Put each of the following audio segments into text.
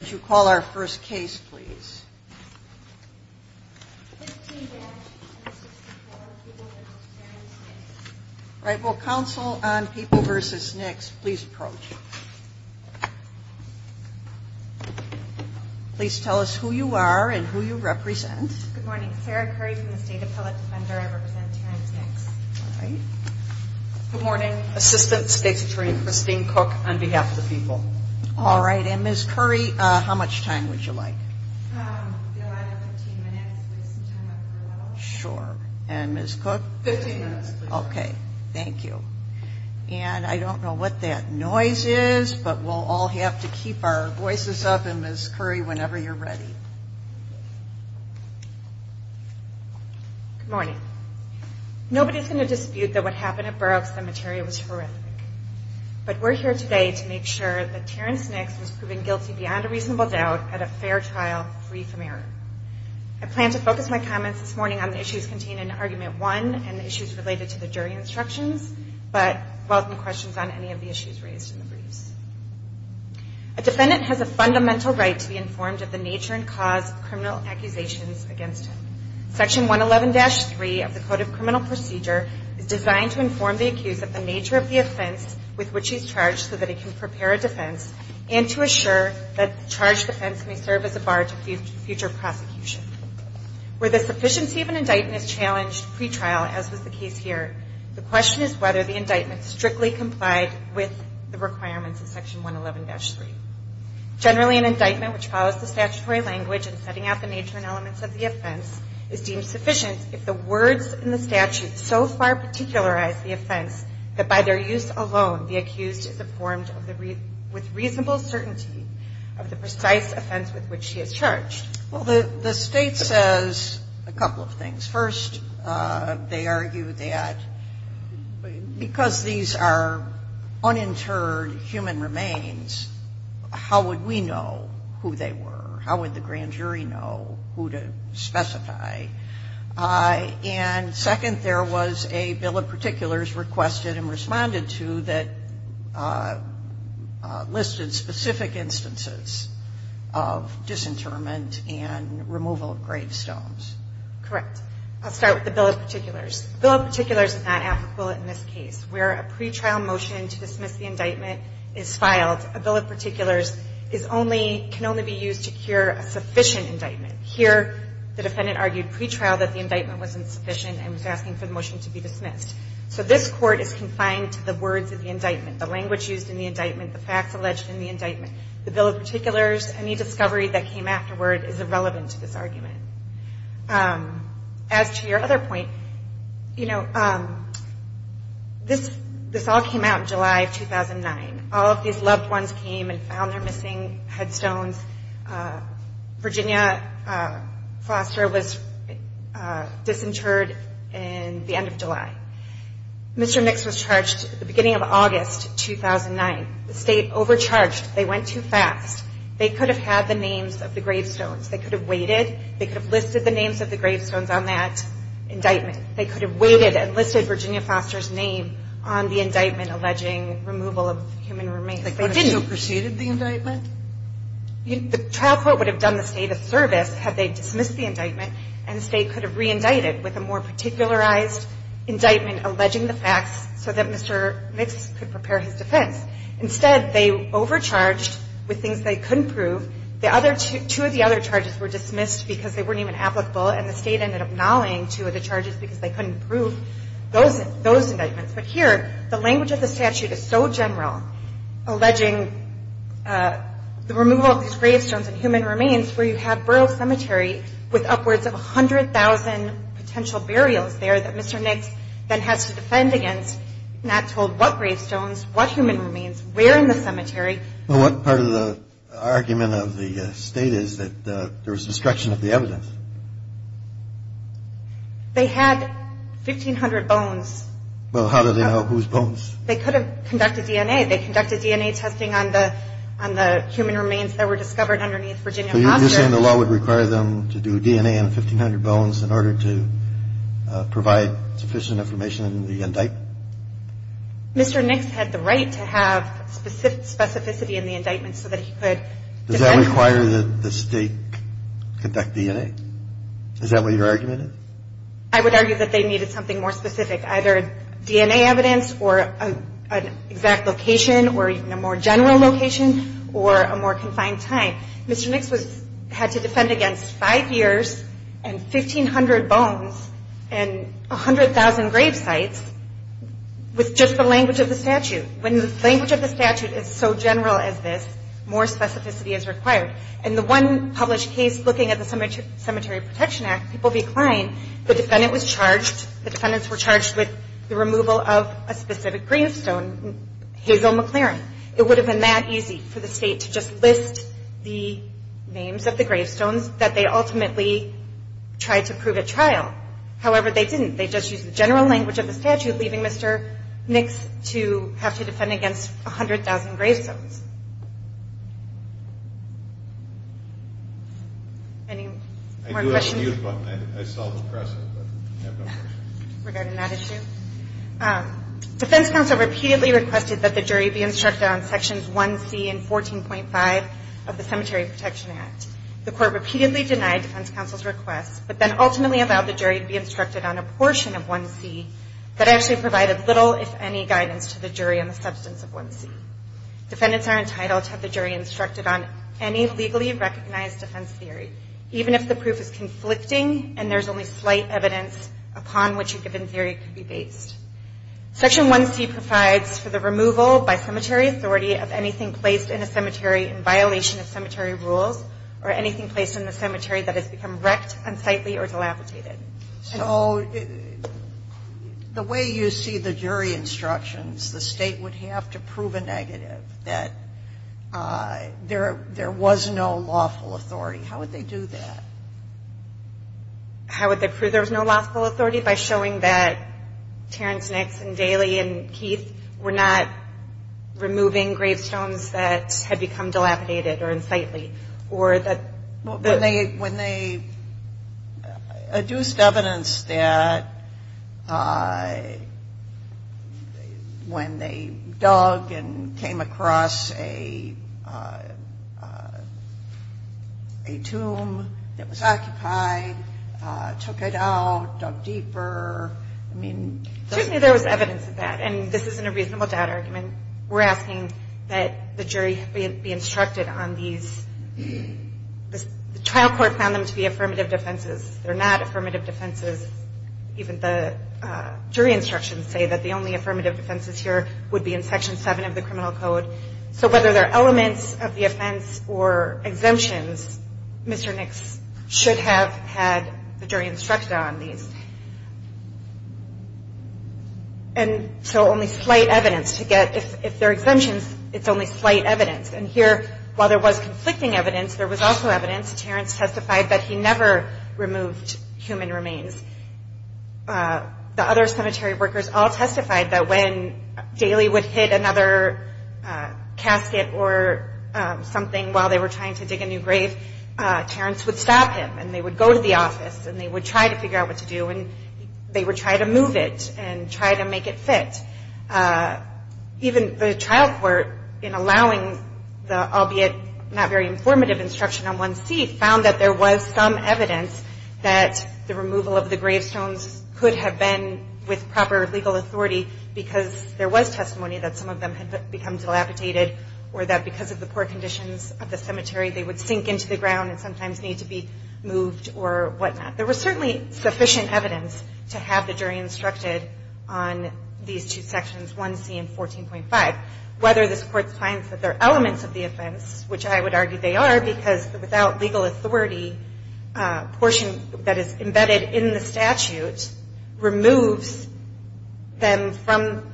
Please tell us who you are and who you represent. Good morning. Sarah Curry from the State Appellate Defender. I represent Terrence Nicks. Good morning. Assistant State's Attorney Christine Cook on behalf of the people. All right. And Ms. Curry, how much time would you like? 15 minutes. Sure. And Ms. Cook? 15 minutes. Okay. Thank you. And I don't know what that noise is, but we'll all have to keep our voices up. And Ms. Curry, whenever you're ready. Good morning. Nobody's going to dispute that what happened at Burroughs Cemetery was horrific. But we're here today to make sure that Terrence Nicks was proven guilty beyond a reasonable doubt at a fair trial, free from error. I plan to focus my comments this morning on the issues contained in Argument 1 and the issues related to the jury instructions, but welcome questions on any of the issues raised in the briefs. A defendant has a fundamental right to be informed of the nature and cause of criminal accusations against him. Section 111-3 of the Code of Criminal Procedure is designed to inform the accused of the nature of the offense with which he's charged so that he can prepare a defense and to assure that the charged defense may serve as a bar to future prosecution. Where the sufficiency of an indictment is challenged pre-trial, as was the case here, the question is whether the indictment strictly complied with the requirements of Section 111-3. Generally, an indictment which follows the statutory language in setting out the nature and elements of the offense is deemed sufficient if the words in the statute so far particularize the offense that by their use alone, the accused is informed with reasonable certainty of the precise offense with which he is charged. Well, the state says a couple of things. First, they argue that because these are uninterred human remains, how would we know who they were? How would the grand jury know who to specify? And second, there was a bill of particulars requested and responded to that listed specific instances of disinterment. Correct. I'll start with the bill of particulars. The bill of particulars is not applicable in this case. Where a pre-trial motion to dismiss the indictment is filed, a bill of particulars can only be used to cure a sufficient indictment. Here, the defendant argued pre-trial that the indictment wasn't sufficient and was asking for the motion to be dismissed. So this court is confined to the words of the indictment, the language used in the indictment, the facts alleged in the indictment. The bill of particulars, any discovery that came afterward, is irrelevant to this argument. As to your other point, you know, this all came out in July of 2009. All of these loved ones came and found their missing headstones. Virginia Foster was disinterred in the end of July. Mr. Mix was charged at the beginning of August 2009. The state overcharged. They went to the state attorney's office. They could have had the names of the gravestones. They could have waited. They could have listed the names of the gravestones on that indictment. They could have waited and listed Virginia Foster's name on the indictment alleging removal of human remains. They didn't. The trial court would have done the State a service had they dismissed the indictment and the State could have re-indicted with a more particularized indictment alleging the facts so that Mr. Mix could prepare his defense. Instead, they overcharged with things they couldn't prove. The other two of the other charges were dismissed because they weren't even applicable and the State ended up nulling two of the charges because they couldn't prove those indictments. But here, the language of the statute is so general alleging the removal of these gravestones and human remains where you have Burroughs Cemetery with upwards of 100,000 potential burials there that Mr. Mix then has to defend against not told what gravestones, what human remains, where in the cemetery. Well, what part of the argument of the State is that there was destruction of the evidence? They had 1,500 bones. Well, how do they know whose bones? They could have conducted DNA. They conducted DNA testing on the human remains that were discovered underneath Virginia Foster. So you're saying the law would require them to do DNA on 1,500 bones in order to provide sufficient information in the indictment? Mr. Mix had the right to have specificity in the indictment so that he could defend. Does that require that the State conduct DNA? Is that what your argument is? I would argue that they needed something more specific, either DNA evidence or an exact location or even a more general location or a more confined time. Mr. Mix had to defend against five years and 1,500 bones and 100,000 grave sites with just the language of the statute. When the language of the statute is so general as this, more specificity is required. In the one published case looking at the Cemetery Protection Act, people declined. The defendant was charged, the defendants were charged with the removal of a specific gravestone, Hazel McLaren. It would have been that easy for the State to just list the names of the gravestones that they ultimately tried to prove at trial. However, they didn't. They just used the general language of the statute, leaving Mr. Mix to have to defend against 100,000 gravestones. Any more questions? I do have a huge one. I saw it in the press. Regarding that issue, defense counsel repeatedly requested that the jury be instructed on sections 1C and 14.5 of the Cemetery Protection Act. The court repeatedly denied defense counsel's request, but then ultimately allowed the jury to be instructed on a portion of 1C that actually provided little, if any, guidance to the jury on the substance of 1C. Defendants are entitled to have the jury instructed on any legally recognized defense theory, even if the proof is conflicting and there's only slight evidence upon which a given theory could be based. Section 1C provides for the removal by cemetery authority of anything placed in a cemetery in violation of cemetery rules or anything placed in a cemetery that has become wrecked, unsightly, or dilapidated. So the way you see the jury instructions, the State would have to prove a negative, that there was no lawful authority. How would they do that? How would they prove there was no lawful authority? By showing that Terrence Nix and Daly and Keith were not removing gravestones that had become dilapidated or unsightly? When they adduced evidence that when they dug and came across a tomb that was occupied, took it out, dug deeper? Certainly there was evidence of that. And this isn't a reasonable doubt argument. We're asking that the jury be instructed on these. The trial court found them to be affirmative defenses. They're not affirmative defenses. Even the jury instructions say that the only affirmative defenses here would be in Section 7 of the Criminal Code. So whether they're elements of the offense or exemptions, Mr. Nix should have had the jury instructed on these. And so only slight evidence to get, if they're exemptions, it's only slight evidence. And here, while there was conflicting evidence, there was also evidence. Terrence testified that he never removed human remains. The other cemetery workers all testified that when Daly would hit another casket or something while they were trying to dig a new grave, Terrence would stop him and they would go to the office and they would try to figure out what to do and they would try to move it and try to make it fit. Even the trial court, in allowing the albeit not very informative instruction on 1C, found that there was some evidence that the removal of the gravestones could have been with proper legal authority because there was testimony that some of them had become dilapidated or that because of the poor conditions of the cemetery, they would sink into the ground and sometimes need to be moved or whatnot. There was certainly sufficient evidence to have the jury instructed on these two sections, 1C and 14.5. Whether this Court finds that they're elements of the offense, which I would argue they are, because without legal authority, a portion that is embedded in the statute removes them from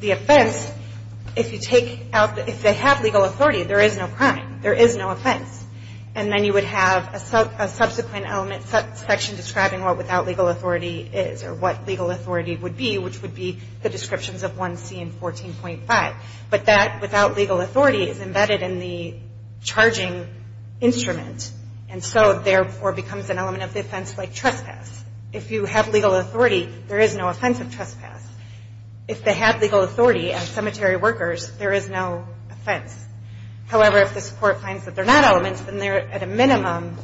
the offense. If they have legal authority, there is no crime, there is no offense. And then you would have a subsequent section describing what without legal authority is or what legal authority would be, which would be the descriptions of 1C and 14.5. But that without legal authority is embedded in the charging instrument and so therefore becomes an element of the offense like trespass. If you have legal authority, there is no offense of trespass. If they have legal authority as cemetery workers, there is no offense. However, if this Court finds that they're not elements, then they're at a minimum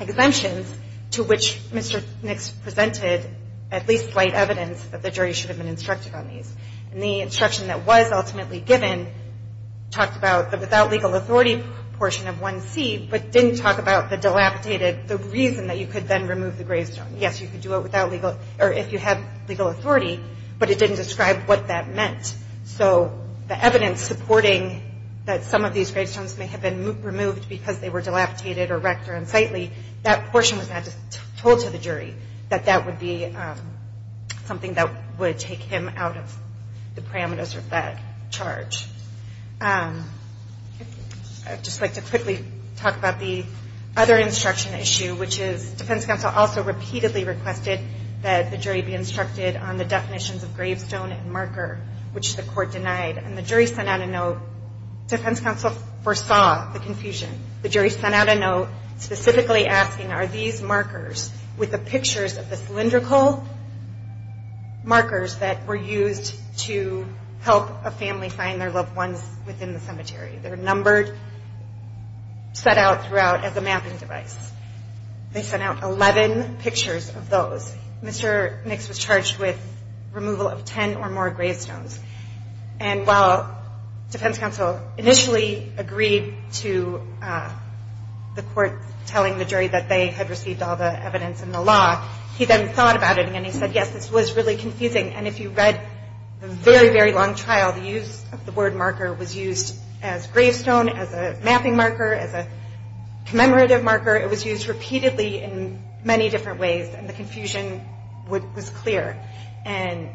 exemptions to which Mr. Nix presented at least slight evidence that the jury should have been instructed on these. And the instruction that was ultimately given talked about the without legal authority portion of 1C, but didn't talk about the dilapidated, the reason that you could then remove the gravestone. Yes, you could do it without legal, or if you had legal authority, but it didn't describe what that meant. So the evidence supporting that some of these gravestones may have been removed because they were dilapidated or wrecked or unsightly, that portion was not told to the jury that that would be something that would take him out of the parameters of that charge. I would just like to quickly talk about the other instruction issue, which is defense counsel also repeatedly requested that the jury be instructed on the definitions of gravestone and marker, which the Court denied. And the jury sent out a note. Defense counsel foresaw the confusion. The jury sent out a note specifically asking, are these markers with the pictures of the cylindrical markers that were used to help a family find their loved ones within the cemetery? They're numbered, set out throughout as a mapping device. They sent out 11 pictures of those. Mr. Nix was charged with removal of 10 or more gravestones. And while defense counsel initially agreed to the court telling the jury that they had received all the evidence in the law, he then thought about it and he said, yes, this was really confusing. And if you read the very, very long trial, the use of the word marker was used as gravestone, as a mapping marker, as a commemorative marker. It was used repeatedly in many different ways, and the confusion was clear. And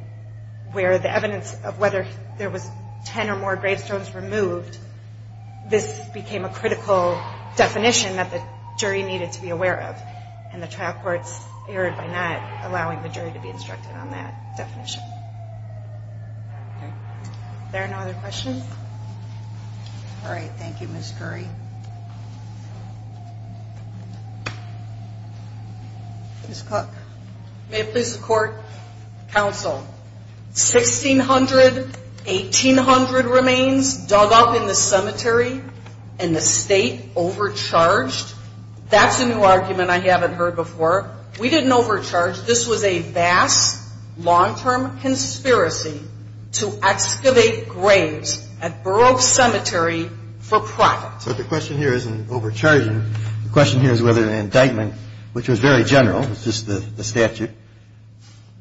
where the evidence of whether there was 10 or more gravestones removed, this became a critical definition that the jury needed to be aware of. And the trial courts erred by not allowing the jury to be instructed on that definition. Are there no other questions? All right. Thank you, Ms. Curry. Ms. Cook. May it please the court, counsel, 1,600, 1,800 remains dug up in the cemetery and the state overcharged? That's a new argument I haven't heard before. We didn't overcharge. This was a vast, long-term conspiracy to excavate graves at Borough Cemetery for profit. So the question here isn't overcharging. The question here is whether the indictment, which was very general, it's just the statute,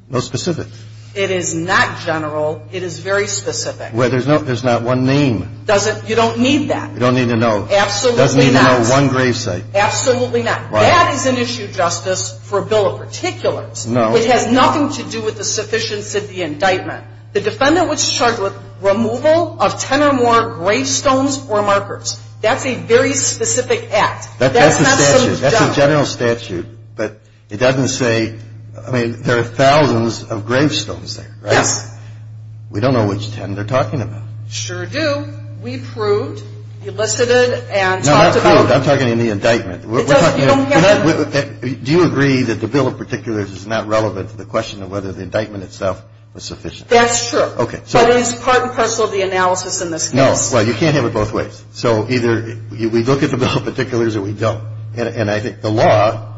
no specifics. It is not general. It is very specific. Well, there's not one name. You don't need that. You don't need to know. Absolutely not. Doesn't need to know one gravesite. Absolutely not. That is an issue, Justice, for a bill of particulars. No. It has nothing to do with the sufficiency of the indictment. The defendant was charged with removal of 10 or more gravestones or markers. That's a very specific act. That's a general statute, but it doesn't say, I mean, there are thousands of gravestones there, right? Yes. We don't know which 10 they're talking about. Sure do. We proved, elicited, and talked about it. No, not proved. I'm talking in the indictment. You don't have to. Do you agree that the bill of particulars is not relevant to the question of whether the indictment itself was sufficient? That's true. Okay. But it is part and parcel of the analysis in this case. No. Well, you can't have it both ways. So either we look at the bill of particulars or we don't. And I think the law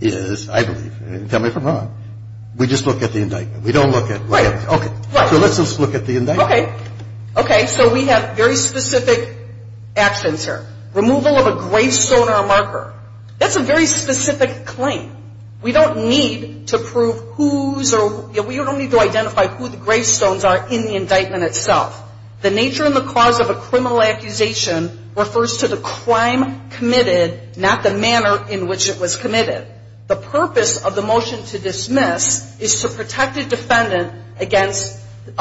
is, I believe, tell me if I'm wrong, we just look at the indictment. We don't look at whatever. Right. Okay. So let's just look at the indictment. Okay. Okay. So we have very specific actions here. Removal of a gravestone or a marker. That's a very specific claim. We don't need to prove whose or we don't need to identify who the gravestones are in the indictment itself. The nature and the cause of a criminal accusation refers to the crime committed, not the manner in which it was committed. The purpose of the motion to dismiss is to protect a defendant against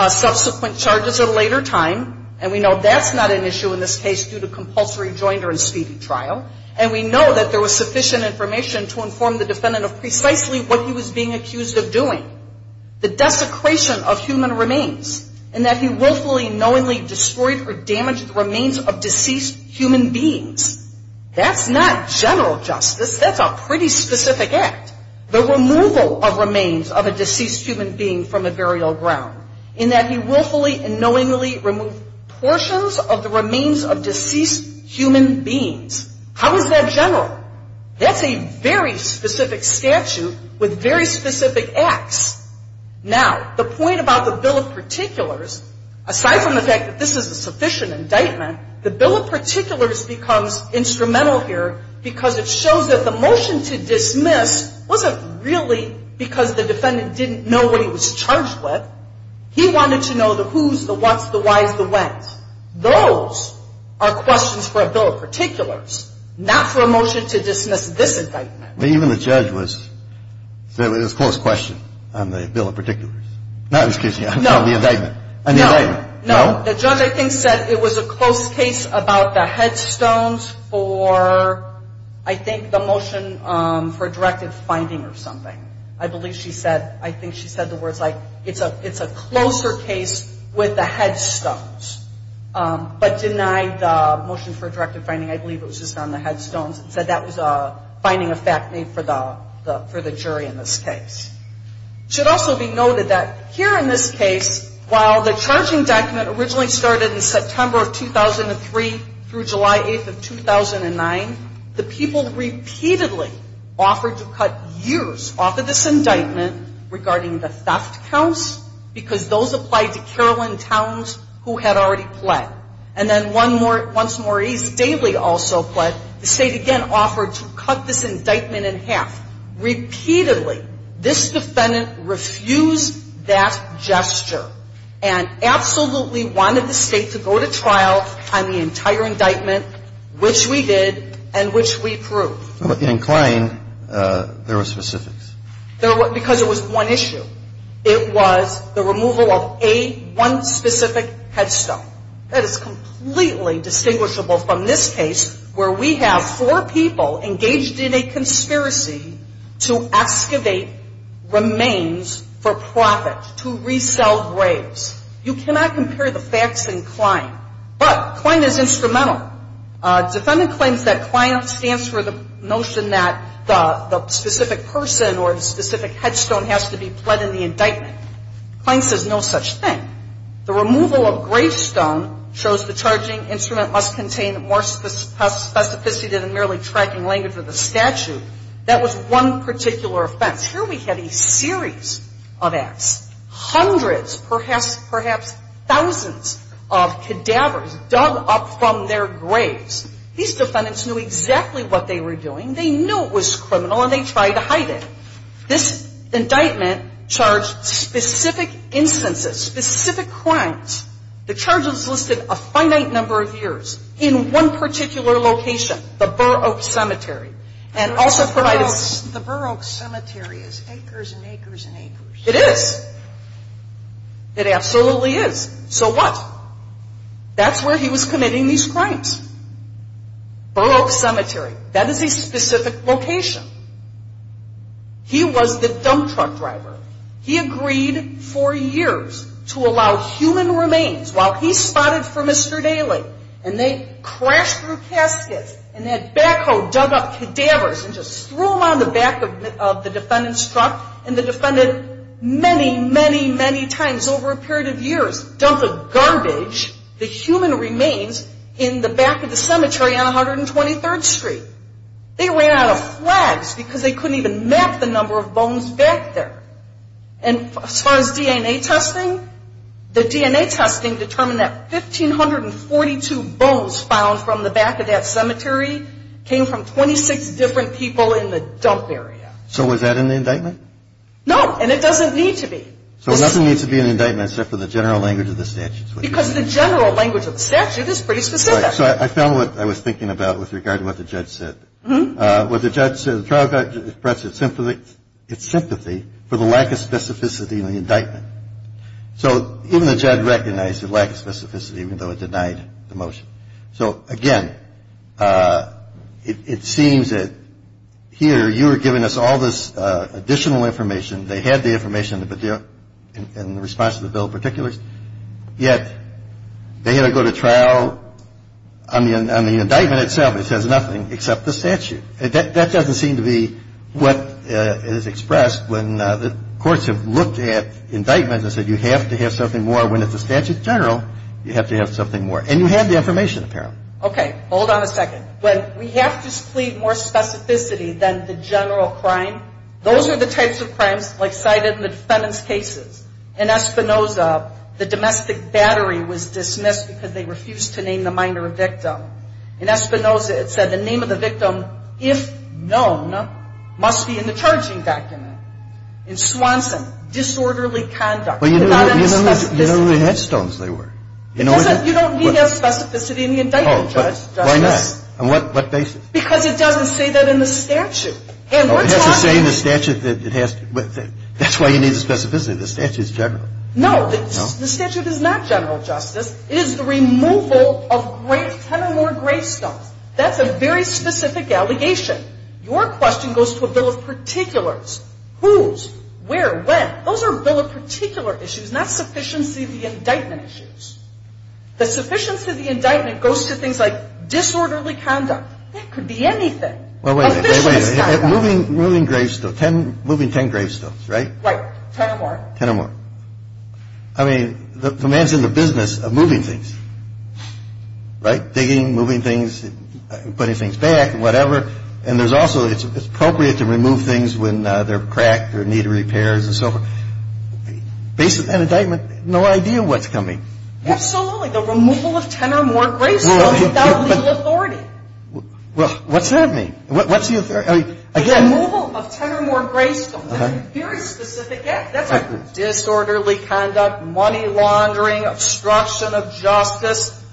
subsequent charges at a later time. And we know that's not an issue in this case due to compulsory jointer and speedy trial. And we know that there was sufficient information to inform the defendant of precisely what he was being accused of doing. The desecration of human remains. And that he willfully, knowingly destroyed or damaged the remains of deceased human beings. That's not general justice. That's a pretty specific act. The removal of remains of a deceased human being from a burial ground. And that he willfully and knowingly removed portions of the remains of deceased human beings. How is that general? That's a very specific statute with very specific acts. Now, the point about the Bill of Particulars, aside from the fact that this is a sufficient indictment, the Bill of Particulars becomes instrumental here because it shows that the motion to dismiss wasn't really because the defendant didn't know what he was charged with. He wanted to know the who's, the what's, the why's, the when's. Those are questions for a Bill of Particulars, not for a motion to dismiss this indictment. Even the judge was, said it was a close question on the Bill of Particulars. No, excuse me, on the indictment. No, no. The judge, I think, said it was a close case about the headstones for, I think, the motion for a directive finding or something. I believe she said, I think she said the words like, it's a closer case with the headstones. But denied the motion for a directive finding. I believe it was just on the headstones and said that was finding a fact made for the jury in this case. It should also be noted that here in this case, while the charging document originally started in September of 2003 through July 8th of 2009, the people repeatedly offered to cut years off of this indictment regarding the theft counts because those applied to Carolyn Towns who had already pled. And then once Maurice Daly also pled, the State again offered to cut this indictment in half. Repeatedly, this defendant refused that gesture and absolutely wanted the State to go to trial on the entire indictment, which we did and which we proved. But the incline, there were specifics. There were, because it was one issue. It was the removal of a, one specific headstone. That is completely distinguishable from this case where we have four people engaged in a conspiracy to excavate remains for profit, to resell graves. You cannot compare the facts and incline. But incline is instrumental. The defendant claims that incline stands for the notion that the specific person or the specific headstone has to be pled in the indictment. Incline says no such thing. The removal of gravestone shows the charging instrument must contain more specificity than merely tracking language of the statute. That was one particular offense. Here we have a series of acts. Hundreds, perhaps thousands of cadavers dug up from their graves. These defendants knew exactly what they were doing. They knew it was criminal and they tried to hide it. This indictment charged specific instances, specific crimes. The charges listed a finite number of years in one particular location, the Burr Oak Cemetery. And also provided the Burr Oak Cemetery is acres and acres and acres. It is. It absolutely is. So what? That's where he was committing these crimes. Burr Oak Cemetery. That is a specific location. He was the dump truck driver. He agreed for years to allow human remains while he spotted for Mr. Daly. And they crashed through caskets and that backhoe dug up cadavers and just threw them on the back of the defendant's truck. And the defendant many, many, many times over a period of years dumped the garbage, the human remains in the back of the cemetery on 123rd Street. They ran out of flags because they couldn't even map the number of bones back there. And as far as DNA testing, the DNA testing determined that 1,542 bones found from the back of that cemetery came from 26 different people in the dump area. So was that in the indictment? No, and it doesn't need to be. So it doesn't need to be in the indictment except for the general language of the statute? Because the general language of the statute is pretty specific. So I found what I was thinking about with regard to what the judge said. What the judge said, the trial judge expressed its sympathy for the lack of specificity in the indictment. So even the judge recognized the lack of specificity even though it denied the motion. So, again, it seems that here you are giving us all this additional information. They had the information in the response to the bill of particulars. Yet they had to go to trial on the indictment itself. It says nothing except the statute. That doesn't seem to be what is expressed when the courts have looked at indictments and said you have to have something more when it's a statute general. You have to have something more. And you have the information apparently. Okay. Hold on a second. When we have to plead more specificity than the general crime, those are the types of crimes cited in the defendants' cases. In Espinoza, the domestic battery was dismissed because they refused to name the minor victim. In Espinoza, it said the name of the victim, if known, must be in the charging document. In Swanson, disorderly conduct. But you know the headstones they were. You don't need to have specificity in the indictment, Judge. Why not? On what basis? Because it doesn't say that in the statute. It has to say in the statute that it has to. That's why you need the specificity. The statute is general. No. The statute is not general justice. It is the removal of 10 or more gravestones. That's a very specific allegation. Your question goes to a bill of particulars. Whose? Where? When? Those are bill of particular issues, not sufficiency of the indictment issues. The sufficiency of the indictment goes to things like disorderly conduct. That could be anything. Well, wait a minute. Wait a minute. Moving gravestones. Moving 10 gravestones, right? Right. 10 or more. 10 or more. I mean, the man's in the business of moving things, right? Digging, moving things, putting things back and whatever. And there's also, it's appropriate to remove things when they're cracked or need repairs and so forth. Based on that indictment, no idea what's coming. Absolutely. The removal of 10 or more gravestones without legal authority. What's that mean? What's the authority? Again. The removal of 10 or more gravestones. Okay. That's a very specific act. That's like disorderly conduct, money laundering, obstruction of justice.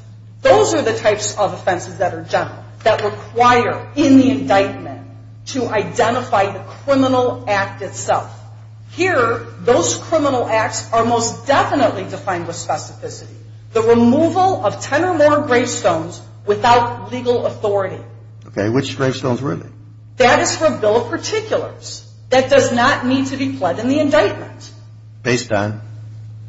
Those are the types of offenses that are general, that require in the indictment to identify the criminal act itself. Here, those criminal acts are most definitely defined with specificity. The removal of 10 or more gravestones without legal authority. Okay. Which gravestones really? That is for a bill of particulars. That does not need to be pled in the indictment. Based on?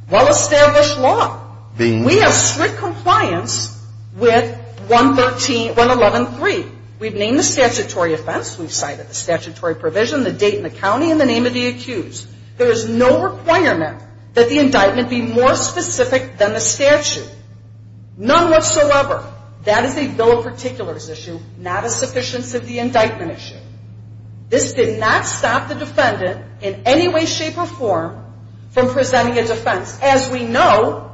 Well-established law. We have strict compliance with 111.3. We've named the statutory offense. We've cited the statutory provision, the date and the county, and the name of the accused. There is no requirement that the indictment be more specific than the statute. None whatsoever. That is a bill of particulars issue, not a sufficiency of the indictment issue. This did not stop the defendant in any way, shape, or form from presenting a defense, as we know,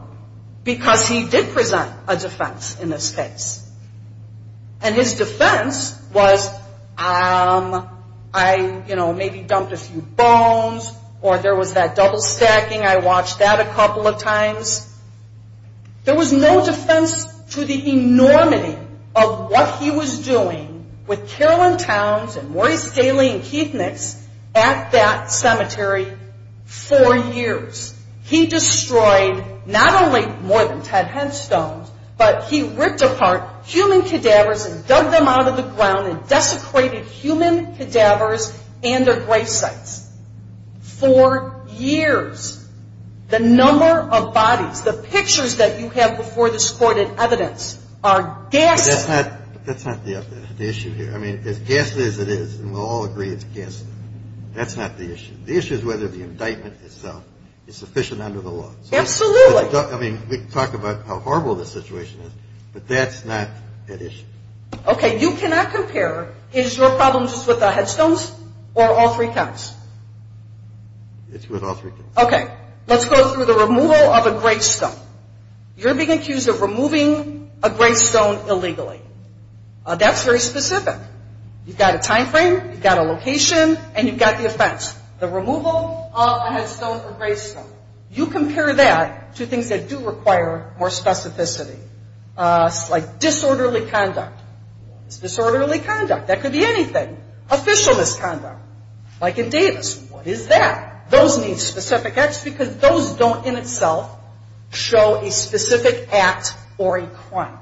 because he did present a defense in this case. And his defense was, um, I, you know, maybe dumped a few bones, or there was that double stacking. I watched that a couple of times. There was no defense to the enormity of what he was doing with Carolyn Towns and Maurice Daly and Keith Nix at that cemetery for years. He destroyed not only more than 10 headstones, but he ripped apart human cadavers and dug them out of the ground and desecrated human cadavers and their grave sites. For years, the number of bodies, the pictures that you have before this Court in evidence are gassed. That's not the issue here. I mean, as gassed as it is, and we'll all agree it's gassed, that's not the issue. The issue is whether the indictment itself is sufficient under the law. Absolutely. I mean, we can talk about how horrible the situation is, but that's not an issue. Okay. You cannot compare, is your problem just with the headstones or all three counts? It's with all three counts. Okay. Let's go through the removal of a gravestone. You're being accused of removing a gravestone illegally. That's very specific. You've got a time frame, you've got a location, and you've got the offense. The removal of a headstone or gravestone. You compare that to things that do require more specificity, like disorderly conduct. It's disorderly conduct. That could be anything. Official misconduct, like in Davis. What is that? Those need specific acts because those don't in itself show a specific act or a crime.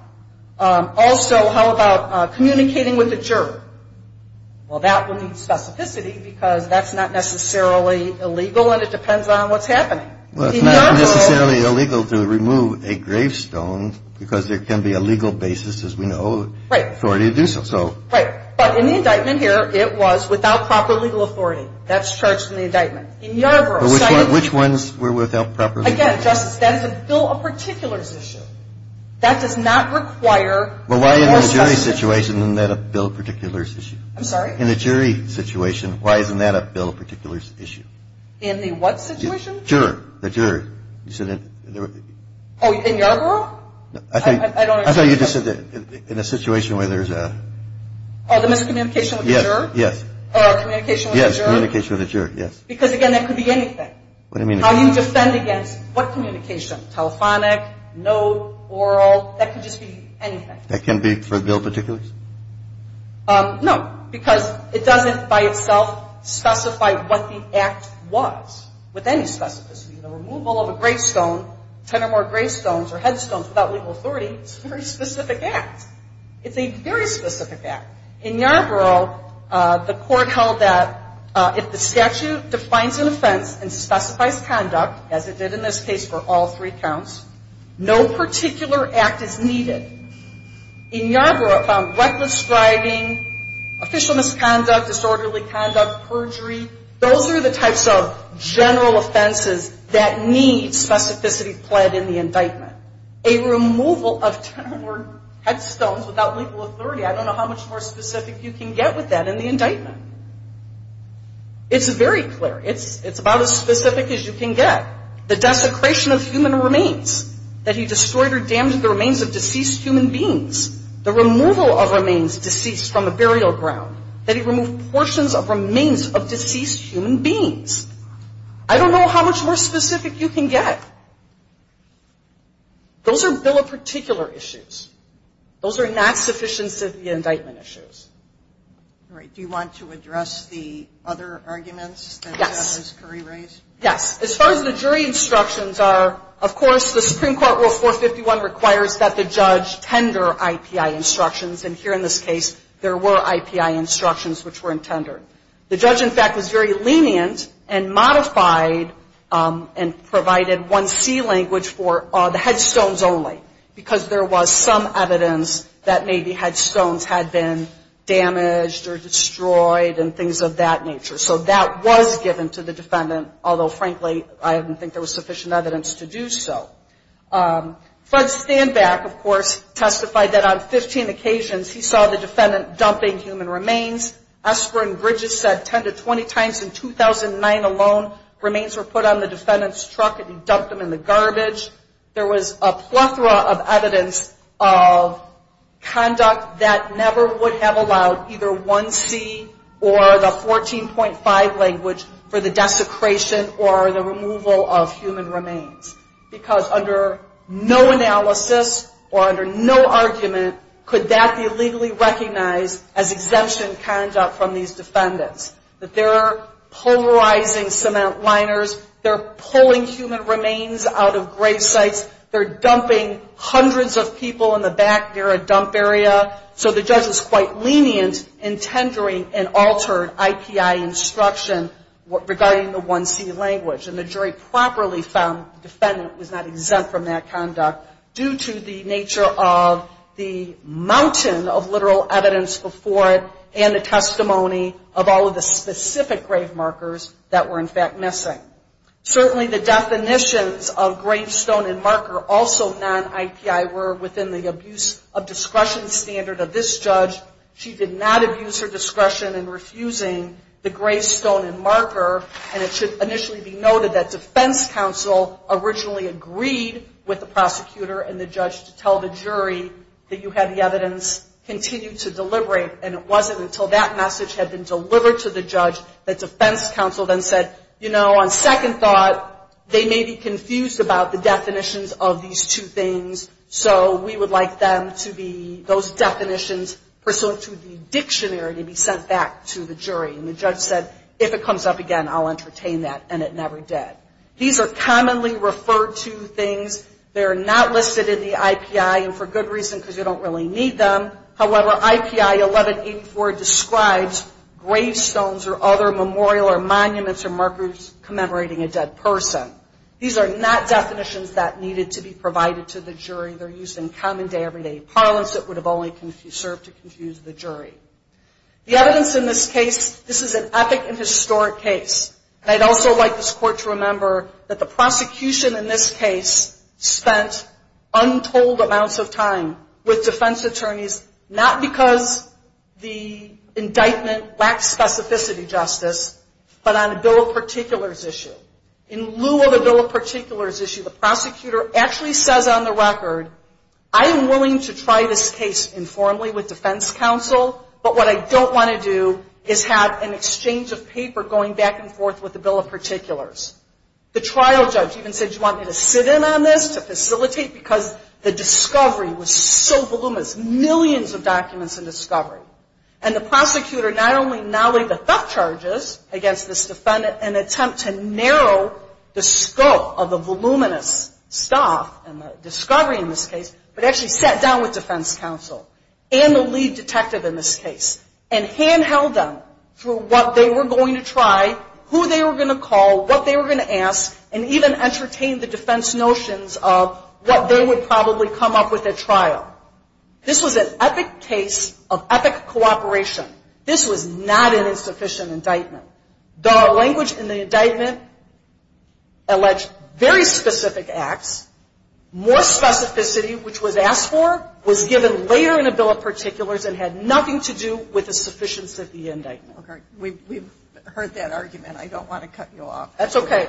Also, how about communicating with a juror? Well, that would need specificity because that's not necessarily illegal, and it depends on what's happening. It's not necessarily illegal to remove a gravestone because there can be a legal basis, as we know, authority to do so. Right. But in the indictment here, it was without proper legal authority. That's charged in the indictment. Which ones were without proper legal authority? Again, Justice, that is a bill of particulars issue. That does not require more specificity. Well, why in a jury situation isn't that a bill of particulars issue? I'm sorry? In a jury situation, why isn't that a bill of particulars issue? In the what situation? Juror. The juror. Oh, in your room? I thought you just said in a situation where there's a... Oh, the miscommunication with the juror? Yes. Or communication with the juror? Yes, communication with the juror, yes. Because, again, that could be anything. What do you mean? How you defend against what communication? Telephonic, no oral, that can just be anything. That can be for a bill of particulars? No. Because it doesn't by itself specify what the act was with any specificity. The removal of a gravestone, ten or more gravestones or headstones without legal authority is a very specific act. It's a very specific act. In Yarborough, the Court held that if the statute defines an offense and specifies conduct, as it did in this case for all three counts, no particular act is needed. In Yarborough, it found reckless driving, official misconduct, disorderly conduct, perjury, those are the types of general offenses that need specificity pled in the indictment. A removal of ten or more headstones without legal authority, I don't know how much more specific you can get with that in the indictment. It's very clear. It's about as specific as you can get. The desecration of human remains, that he destroyed or damaged the remains of deceased human beings. The removal of remains deceased from the burial ground, that he removed portions of remains of deceased human beings. I don't know how much more specific you can get. Those are bill of particular issues. Those are not sufficiency of the indictment issues. All right. Do you want to address the other arguments that Ms. Curry raised? Yes. As far as the jury instructions are, of course, the Supreme Court Rule 451 requires that the judge tender IPI instructions. And here in this case, there were IPI instructions which were intended. The judge, in fact, was very lenient and modified and provided one C language for the headstones only. Because there was some evidence that maybe headstones had been damaged or destroyed and things of that nature. So that was given to the defendant. Although, frankly, I don't think there was sufficient evidence to do so. Fred Stanback, of course, testified that on 15 occasions, he saw the defendant dumping human remains. Esper and Bridges said 10 to 20 times in 2009 alone, remains were put on the defendant's truck and he dumped them in the garbage. There was a plethora of evidence of conduct that never would have allowed either one C or the 14.5 language for the desecration or the removal of human remains. Because under no analysis or under no argument, could that be legally recognized as exemption conduct from these defendants. That they're polarizing cement liners. They're pulling human remains out of grave sites. They're dumping hundreds of people in the back near a dump area. So the judge was quite lenient in tendering an altered IPI instruction regarding the one C language. And the jury properly found the defendant was not exempt from that conduct due to the nature of the mountain of literal evidence before it and the testimony of all of the specific grave markers that were in fact missing. Certainly the definitions of gravestone and marker also non-IPI were within the abuse of discretion standard of this judge. She did not abuse her discretion in refusing the gravestone and marker. And it should initially be noted that defense counsel originally agreed with the prosecutor and the judge to tell the jury that you had the evidence continue to deliberate and it wasn't until that message had been delivered to the judge that defense counsel then said, you know, on second thought, they may be confused about the definitions of these two things. So we would like them to be, those definitions, pursuant to the dictionary to be sent back to the jury. And the judge said, if it comes up again, I'll entertain that. And it never did. These are commonly referred to things. They are not listed in the IPI and for good reason because you don't really need them. However, IPI 1184 describes gravestones or other memorial or monuments or markers commemorating a dead person. These are not definitions that needed to be provided to the jury. They're used in common day, everyday parlance. It would have only served to confuse the jury. The evidence in this case, this is an epic and historic case. And I'd also like this court to remember that the prosecution in this case spent untold amounts of time with defense attorneys, not because the indictment lacks specificity justice, but on a bill of particulars issue. In lieu of a bill of particulars issue, the prosecutor actually says on the record, I am willing to try this case informally with defense counsel, but what I don't want to do is have an exchange of paper going back and forth with the bill of particulars. The trial judge even said, do you want me to sit in on this to facilitate? Because the discovery was so voluminous, millions of documents in discovery. And the prosecutor not only now laid the thug charges against this defendant and attempt to narrow the scope of the voluminous stuff and the discovery in this case, but actually sat down with defense counsel and the lead detective in this case and handheld them through what they were going to try, who they were going to call, what they were going to ask, and even entertain the defense notions of what they would probably come up with at trial. This was an epic case of epic cooperation. This was not an insufficient indictment. The language in the indictment alleged very specific acts. More specificity, which was asked for, was given later in a bill of particulars and had nothing to do with the sufficiency of the indictment. Okay. We've heard that argument. I don't want to cut you off. That's okay.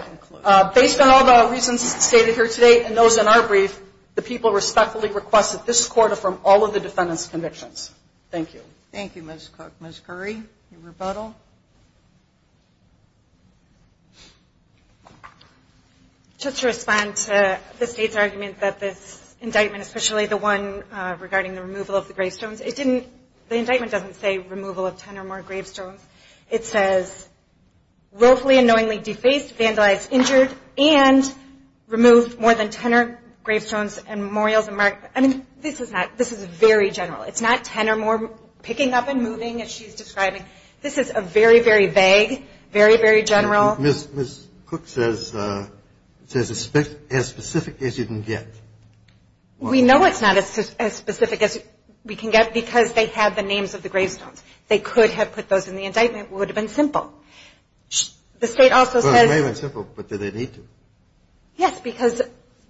Based on all the reasons stated here today and those in our brief, the people respectfully request that this court affirm all of the defendant's convictions. Thank you. Thank you, Ms. Cook. Ms. Curry, any rebuttal? Just to respond to the State's argument that this indictment, especially the one regarding the removal of the gravestones, the indictment doesn't say removal of 10 or more gravestones. It says willfully and knowingly defaced, vandalized, injured, and removed more than 10 gravestones and memorials. I mean, this is very general. It's not 10 or more picking up and moving, as she's describing. This is a very, very vague, very, very general. Ms. Cook says it's as specific as you can get. We know it's not as specific as we can get because they have the names of the gravestones. They could have put those in the indictment. It would have been simple. Well, it may have been simple, but did they need to? Yes, because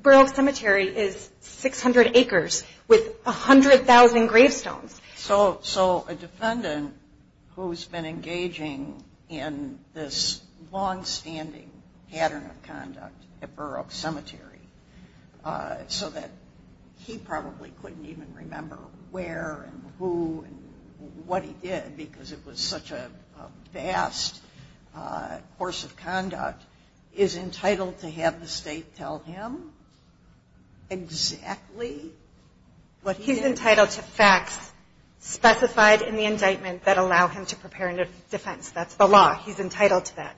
Burroughs Cemetery is 600 acres with 100,000 gravestones. So a defendant who's been engaging in this longstanding pattern of conduct at Burroughs Cemetery so that he probably couldn't even remember where and who and what he did because it was such a vast course of conduct, is entitled to have the State tell him exactly what he did? He's entitled to facts specified in the indictment that allow him to prepare a defense. That's the law. He's entitled to that.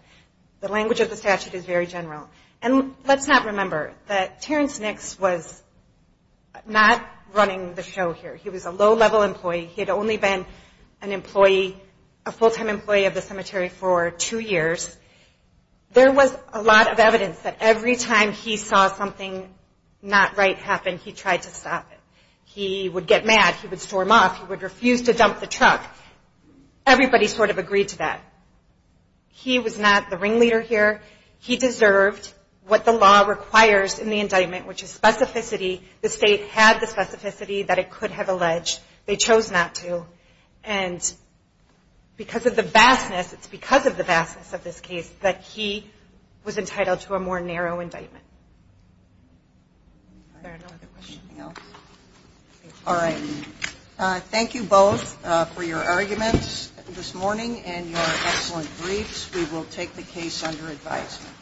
The language of the statute is very general. And let's not remember that Terrence Nix was not running the show here. He was a low-level employee. He had only been a full-time employee of the cemetery for two years. There was a lot of evidence that every time he saw something not right happen, he tried to stop it. He would get mad. He would storm off. He would refuse to dump the truck. Everybody sort of agreed to that. He was not the ringleader here. He deserved what the law requires in the indictment, which is specificity. The State had the specificity that it could have alleged. They chose not to. And because of the vastness, it's because of the vastness of this case, that he was entitled to a more narrow indictment. Is there another question? All right. Thank you both for your arguments this morning and your excellent briefs. We will take the case under advisement.